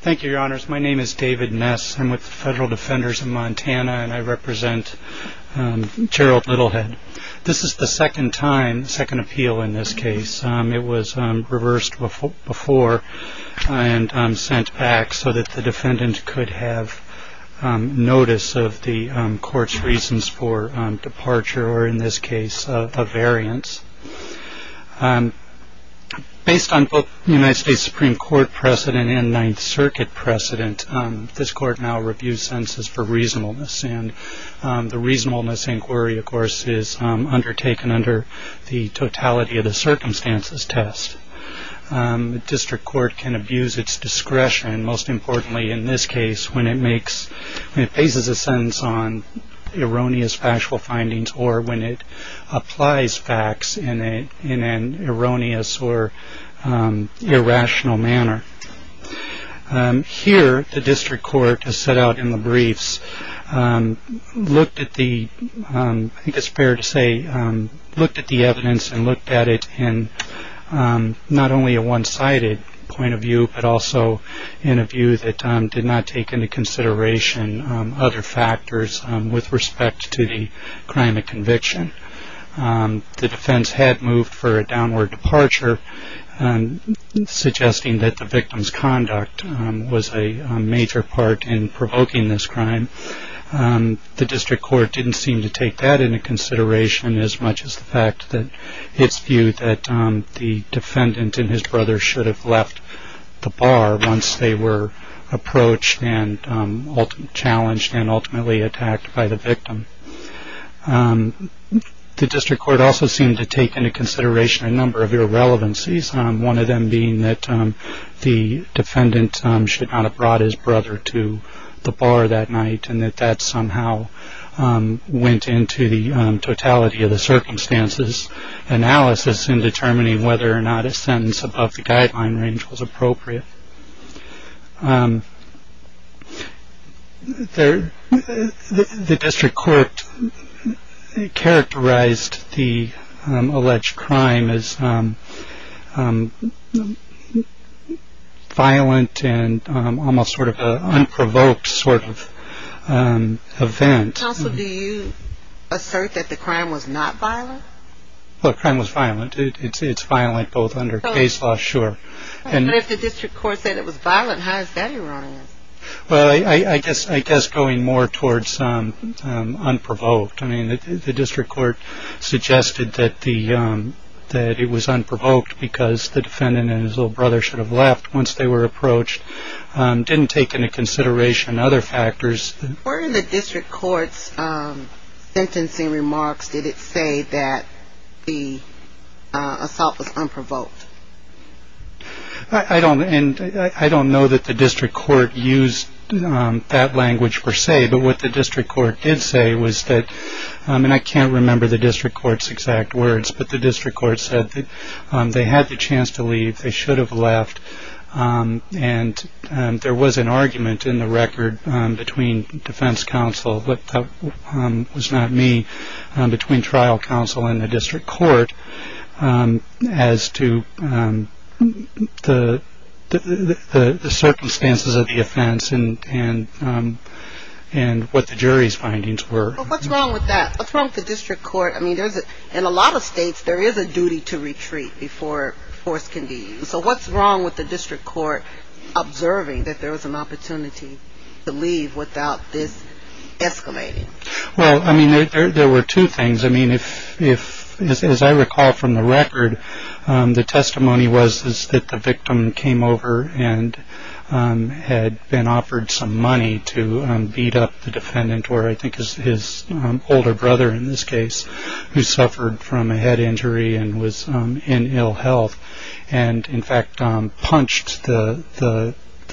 Thank you, Your Honors. My name is David Ness. I'm with the Federal Defenders of Montana and I represent Gerald Littlehead. This is the second time, second appeal in this case. It was reversed before and sent back so that the defendant could have notice of the court's reasons for departure or in this case a variance. Based on both the United States Supreme Court precedent and Ninth Circuit precedent, this court now reviews sentences for reasonableness and the reasonableness inquiry, of course, is undertaken under the totality of the circumstances test. District court can abuse its discretion, most importantly in this case, when it faces a sentence on erroneous factual findings or when it applies facts in an erroneous or irrational manner. Here, the district court, as set out in the briefs, looked at the evidence and looked at it in not only a one-sided point of view but also in a view that did not take into consideration other factors with respect to the crime of conviction. The defense had moved for a downward departure, suggesting that the victim's conduct was a major part in provoking this crime. The district court didn't seem to take that into consideration as much as the fact that its view that the defendant and his brother should have left the bar once they were approached and challenged and ultimately attacked by the victim. The district court also seemed to take into consideration a number of irrelevancies, one of them being that the defendant should not have brought his brother to the bar that night and that that somehow went into the totality of the circumstances analysis in determining whether or not a sentence above the guideline range was appropriate. The district court characterized the alleged crime as violent and almost sort of an unprovoked sort of event. Counsel, do you assert that the crime was not violent? Well, the crime was violent. It's violent both under case law, sure. But if the district court said it was violent, how is that ironic? Well, I guess going more towards unprovoked. I mean, the district court suggested that it was unprovoked because the defendant and his little brother should have left once they were approached. Didn't take into consideration other factors. Where in the district court's sentencing remarks did it say that the assault was unprovoked? I don't know that the district court used that language per se, but what the district court did say was that, and I can't remember the district court's exact words, but the district court said that they had the chance to leave, they should have left. And there was an argument in the record between defense counsel, but that was not me, between trial counsel and the district court as to the circumstances of the offense and what the jury's findings were. But what's wrong with that? What's wrong with the district court? I mean, in a lot of states, there is a duty to retreat before force can be used. So what's wrong with the district court observing that there was an opportunity to leave without this exclamation? Well, I mean, there were two things. I mean, as I recall from the record, the testimony was that the victim came over and had been offered some money to beat up the defendant, or I think his older brother in this case, who suffered from a head injury and was in ill health, and in fact punched the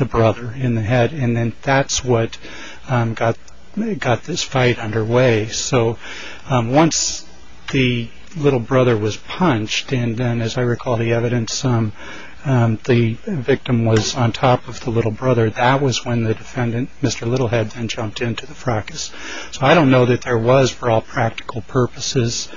brother in the head. And then that's what got this fight underway. So once the little brother was punched, and then as I recall the evidence, the victim was on top of the little brother, that was when the defendant, Mr. Littlehead, then jumped into the fracas. So I don't know that there was, for all practical purposes,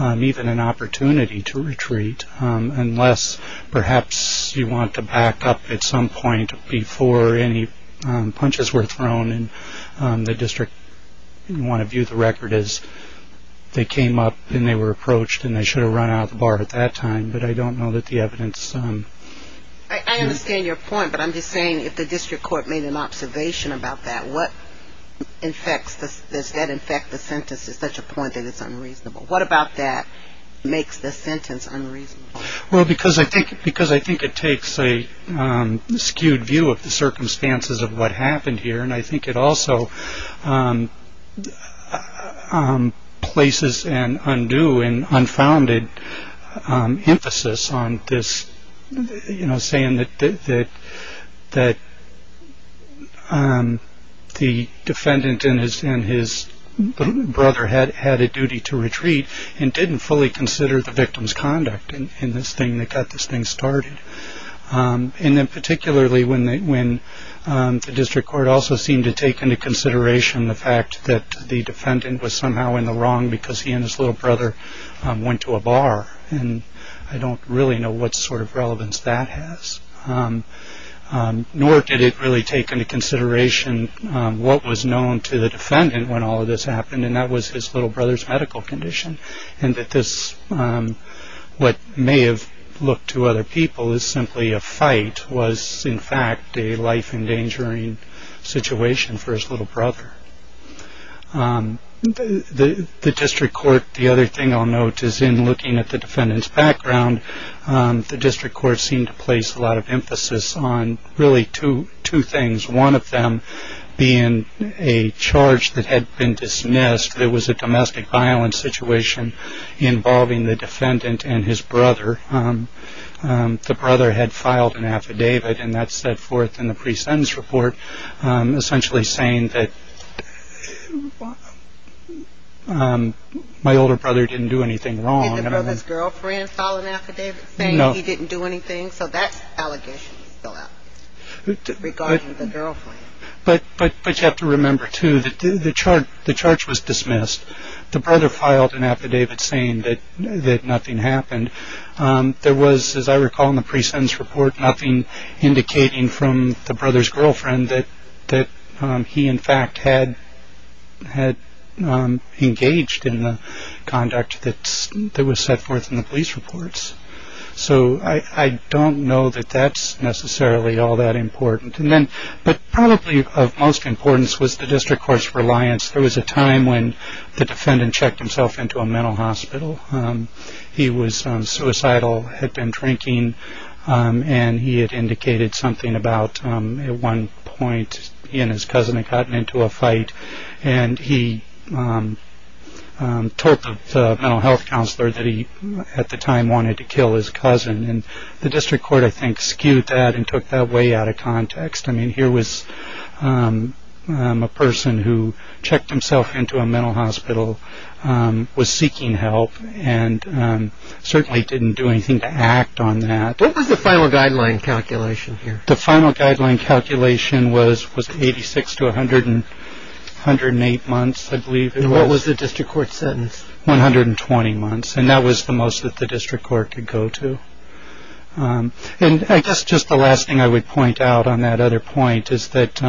even an opportunity to retreat, unless perhaps you want to back up at some point before any punches were thrown, and the district, you want to view the record as they came up and they were approached and they should have run out of the bar at that time, but I don't know that the evidence... I understand your point, but I'm just saying if the district court made an observation about that, does that infect the sentence to such a point that it's unreasonable? What about that makes the sentence unreasonable? Well, because I think it takes a skewed view of the circumstances of what happened here, and I think it also places an undue and unfounded emphasis on this saying that the defendant and his brother had a duty to retreat and didn't fully consider the victim's conduct. And then particularly when the district court also seemed to take into consideration the fact that the defendant was somehow in the wrong because he and his little brother went to a bar, and I don't really know what sort of relevance that has, nor did it really take into consideration what was known to the defendant when all of this happened, and that was his little brother's medical condition. And that this, what may have looked to other people as simply a fight, was in fact a life-endangering situation for his little brother. The district court, the other thing I'll note is in looking at the defendant's background, the district court seemed to place a lot of emphasis on really two things, one of them being a charge that had been dismissed. There was a domestic violence situation involving the defendant and his brother. The brother had filed an affidavit, and that set forth in the pre-sentence report essentially saying that my older brother didn't do anything wrong. Did the brother's girlfriend file an affidavit saying he didn't do anything? No. So that allegation is still out there regarding the girlfriend. But you have to remember too that the charge was dismissed. The brother filed an affidavit saying that nothing happened. There was, as I recall in the pre-sentence report, nothing indicating from the brother's girlfriend that he in fact had engaged in the conduct that was set forth in the police reports. So I don't know that that's necessarily all that important. But probably of most importance was the district court's reliance. There was a time when the defendant checked himself into a mental hospital. He was suicidal, had been drinking, and he had indicated something about at one point he and his cousin had gotten into a fight. And he told the mental health counselor that he at the time wanted to kill his cousin. And the district court, I think, skewed that and took that way out of context. I mean, here was a person who checked himself into a mental hospital, was seeking help, and certainly didn't do anything to act on that. What was the final guideline calculation here? The final guideline calculation was 86 to 108 months, I believe it was. And what was the district court sentence? 120 months. And that was the most that the district court could go to. And I guess just the last thing I would point out on that other point is that,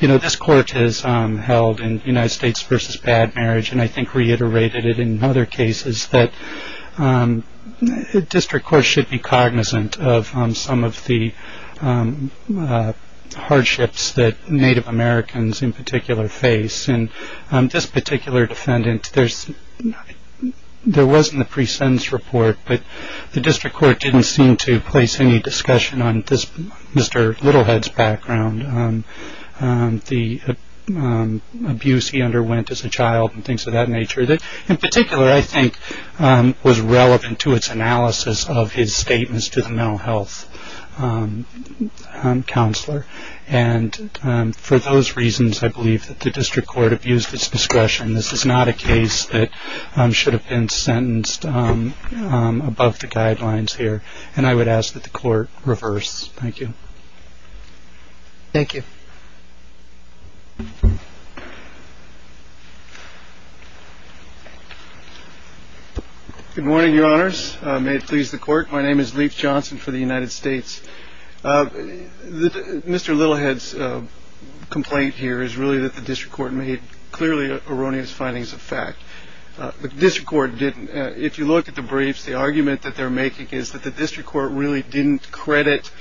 you know, this court has held in United States v. Bad Marriage, and I think reiterated it in other cases, that the district court should be cognizant of some of the hardships that Native Americans in particular face. And this particular defendant, there wasn't a pre-sentence report, but the district court didn't seem to place any discussion on Mr. Littlehead's background, the abuse he underwent as a child and things of that nature that, in particular, I think was relevant to its analysis of his statements to the mental health counselor. And for those reasons, I believe that the district court abused its discretion. This is not a case that should have been sentenced above the guidelines here. And I would ask that the court reverse. Thank you. Thank you. Good morning, Your Honors. May it please the court. My name is Leif Johnson for the United States. Mr. Littlehead's complaint here is really that the district court made clearly erroneous findings of fact. The district court didn't. If you look at the briefs, the argument that they're making is that the district court really didn't credit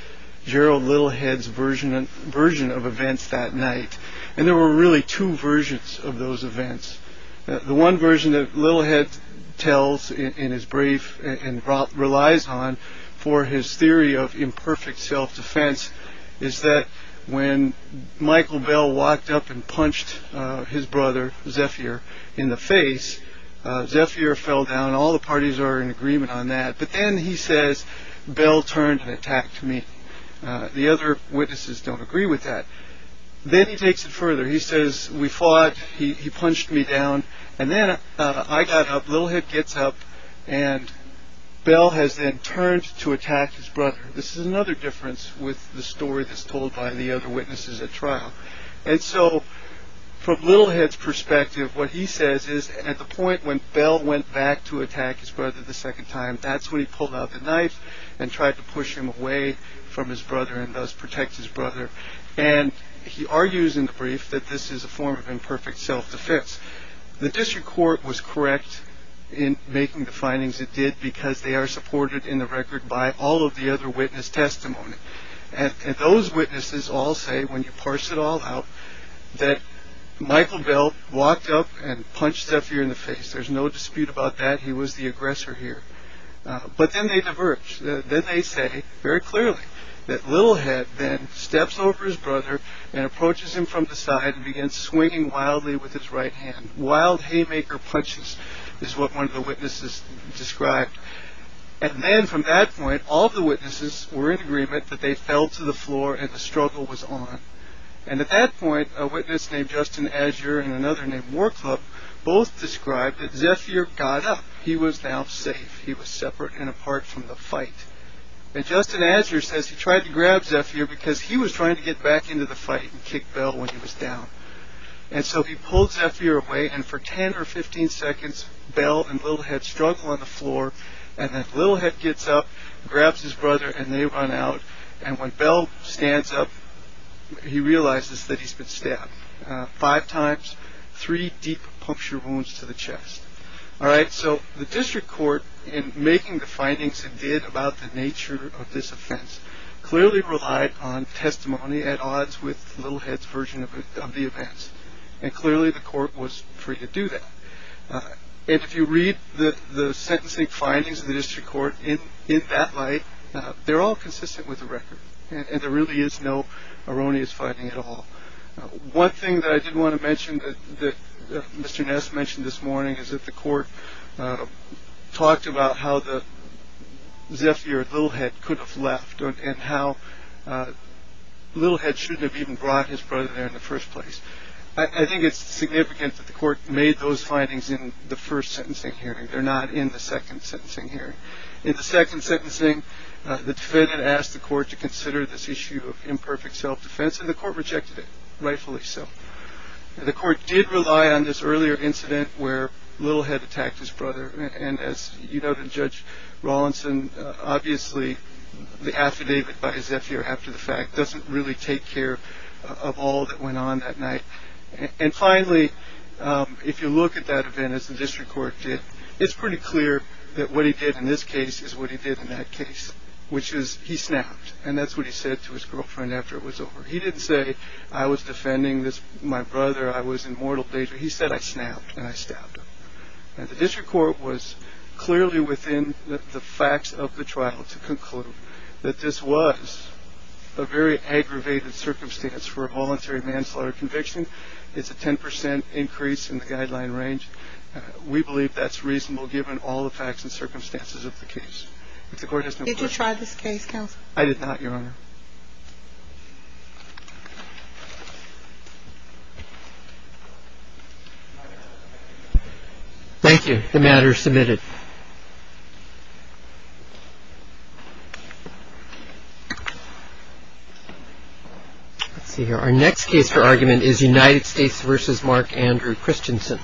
Gerald Littlehead's version and version of events that night. And there were really two versions of those events. The one version that Littlehead tells in his brief and relies on for his theory of imperfect self-defense is that when Michael Bell walked up and punched his brother, Zephyr in the face, Zephyr fell down. All the parties are in agreement on that. But then he says, Bell turned and attacked me. The other witnesses don't agree with that. Then he takes it further. He says, we fought. He punched me down. And then I got up. Littlehead gets up and Bell has then turned to attack his brother. This is another difference with the story that's told by the other witnesses at trial. And so from Littlehead's perspective, what he says is at the point when Bell went back to attack his brother the second time, that's when he pulled out the knife and tried to push him away from his brother and thus protect his brother. And he argues in the brief that this is a form of imperfect self-defense. The district court was correct in making the findings it did because they are supported in the record by all of the other witness testimony. And those witnesses all say when you parse it all out that Michael Bell walked up and punched Zephyr in the face. There's no dispute about that. He was the aggressor here. But then they diverge. Then they say very clearly that Littlehead then steps over his brother and approaches him from the side and begins swinging wildly with his right hand. Wild haymaker punches is what one of the witnesses described. And then from that point, all the witnesses were in agreement that they fell to the floor and the struggle was on. And at that point, a witness named Justin Azure and another named War Club both described that Zephyr got up. He was now safe. He was separate and apart from the fight. And Justin Azure says he tried to grab Zephyr because he was trying to get back into the fight and kick Bell when he was down. And so he pulls Zephyr away. And for 10 or 15 seconds, Bell and Littlehead struggle on the floor. And then Littlehead gets up, grabs his brother, and they run out. And when Bell stands up, he realizes that he's been stabbed five times, three deep puncture wounds to the chest. All right. So the district court in making the findings it did about the nature of this offense clearly relied on testimony at odds with Littlehead's version of the events. And clearly the court was free to do that. And if you read the sentencing findings of the district court in that light, they're all consistent with the record. And there really is no erroneous fighting at all. One thing that I did want to mention that Mr. Ness mentioned this morning is that the court talked about how the Zephyr Littlehead could have left and how Littlehead shouldn't have even brought his brother there in the first place. I think it's significant that the court made those findings in the first sentencing hearing. They're not in the second sentencing hearing. In the second sentencing, the defendant asked the court to consider this issue of imperfect self-defense and the court rejected it, rightfully so. The court did rely on this earlier incident where Littlehead attacked his brother. And as you noted, Judge Rawlinson, obviously the affidavit by Zephyr after the fact doesn't really take care of all that went on that night. And finally, if you look at that event as the district court did, it's pretty clear that what he did in this case is what he did in that case, which is he snapped. And that's what he said to his girlfriend after it was over. He didn't say, I was defending my brother. I was in mortal danger. He said, I snapped and I stabbed him. And the district court was clearly within the facts of the trial to conclude that this was a very aggravated circumstance for a voluntary manslaughter conviction. It's a 10 percent increase in the guideline range. We believe that's reasonable given all the facts and circumstances of the case. Did you try this case, counsel? I did not, Your Honor. Thank you. The matter is submitted. Let's see here. Thank you.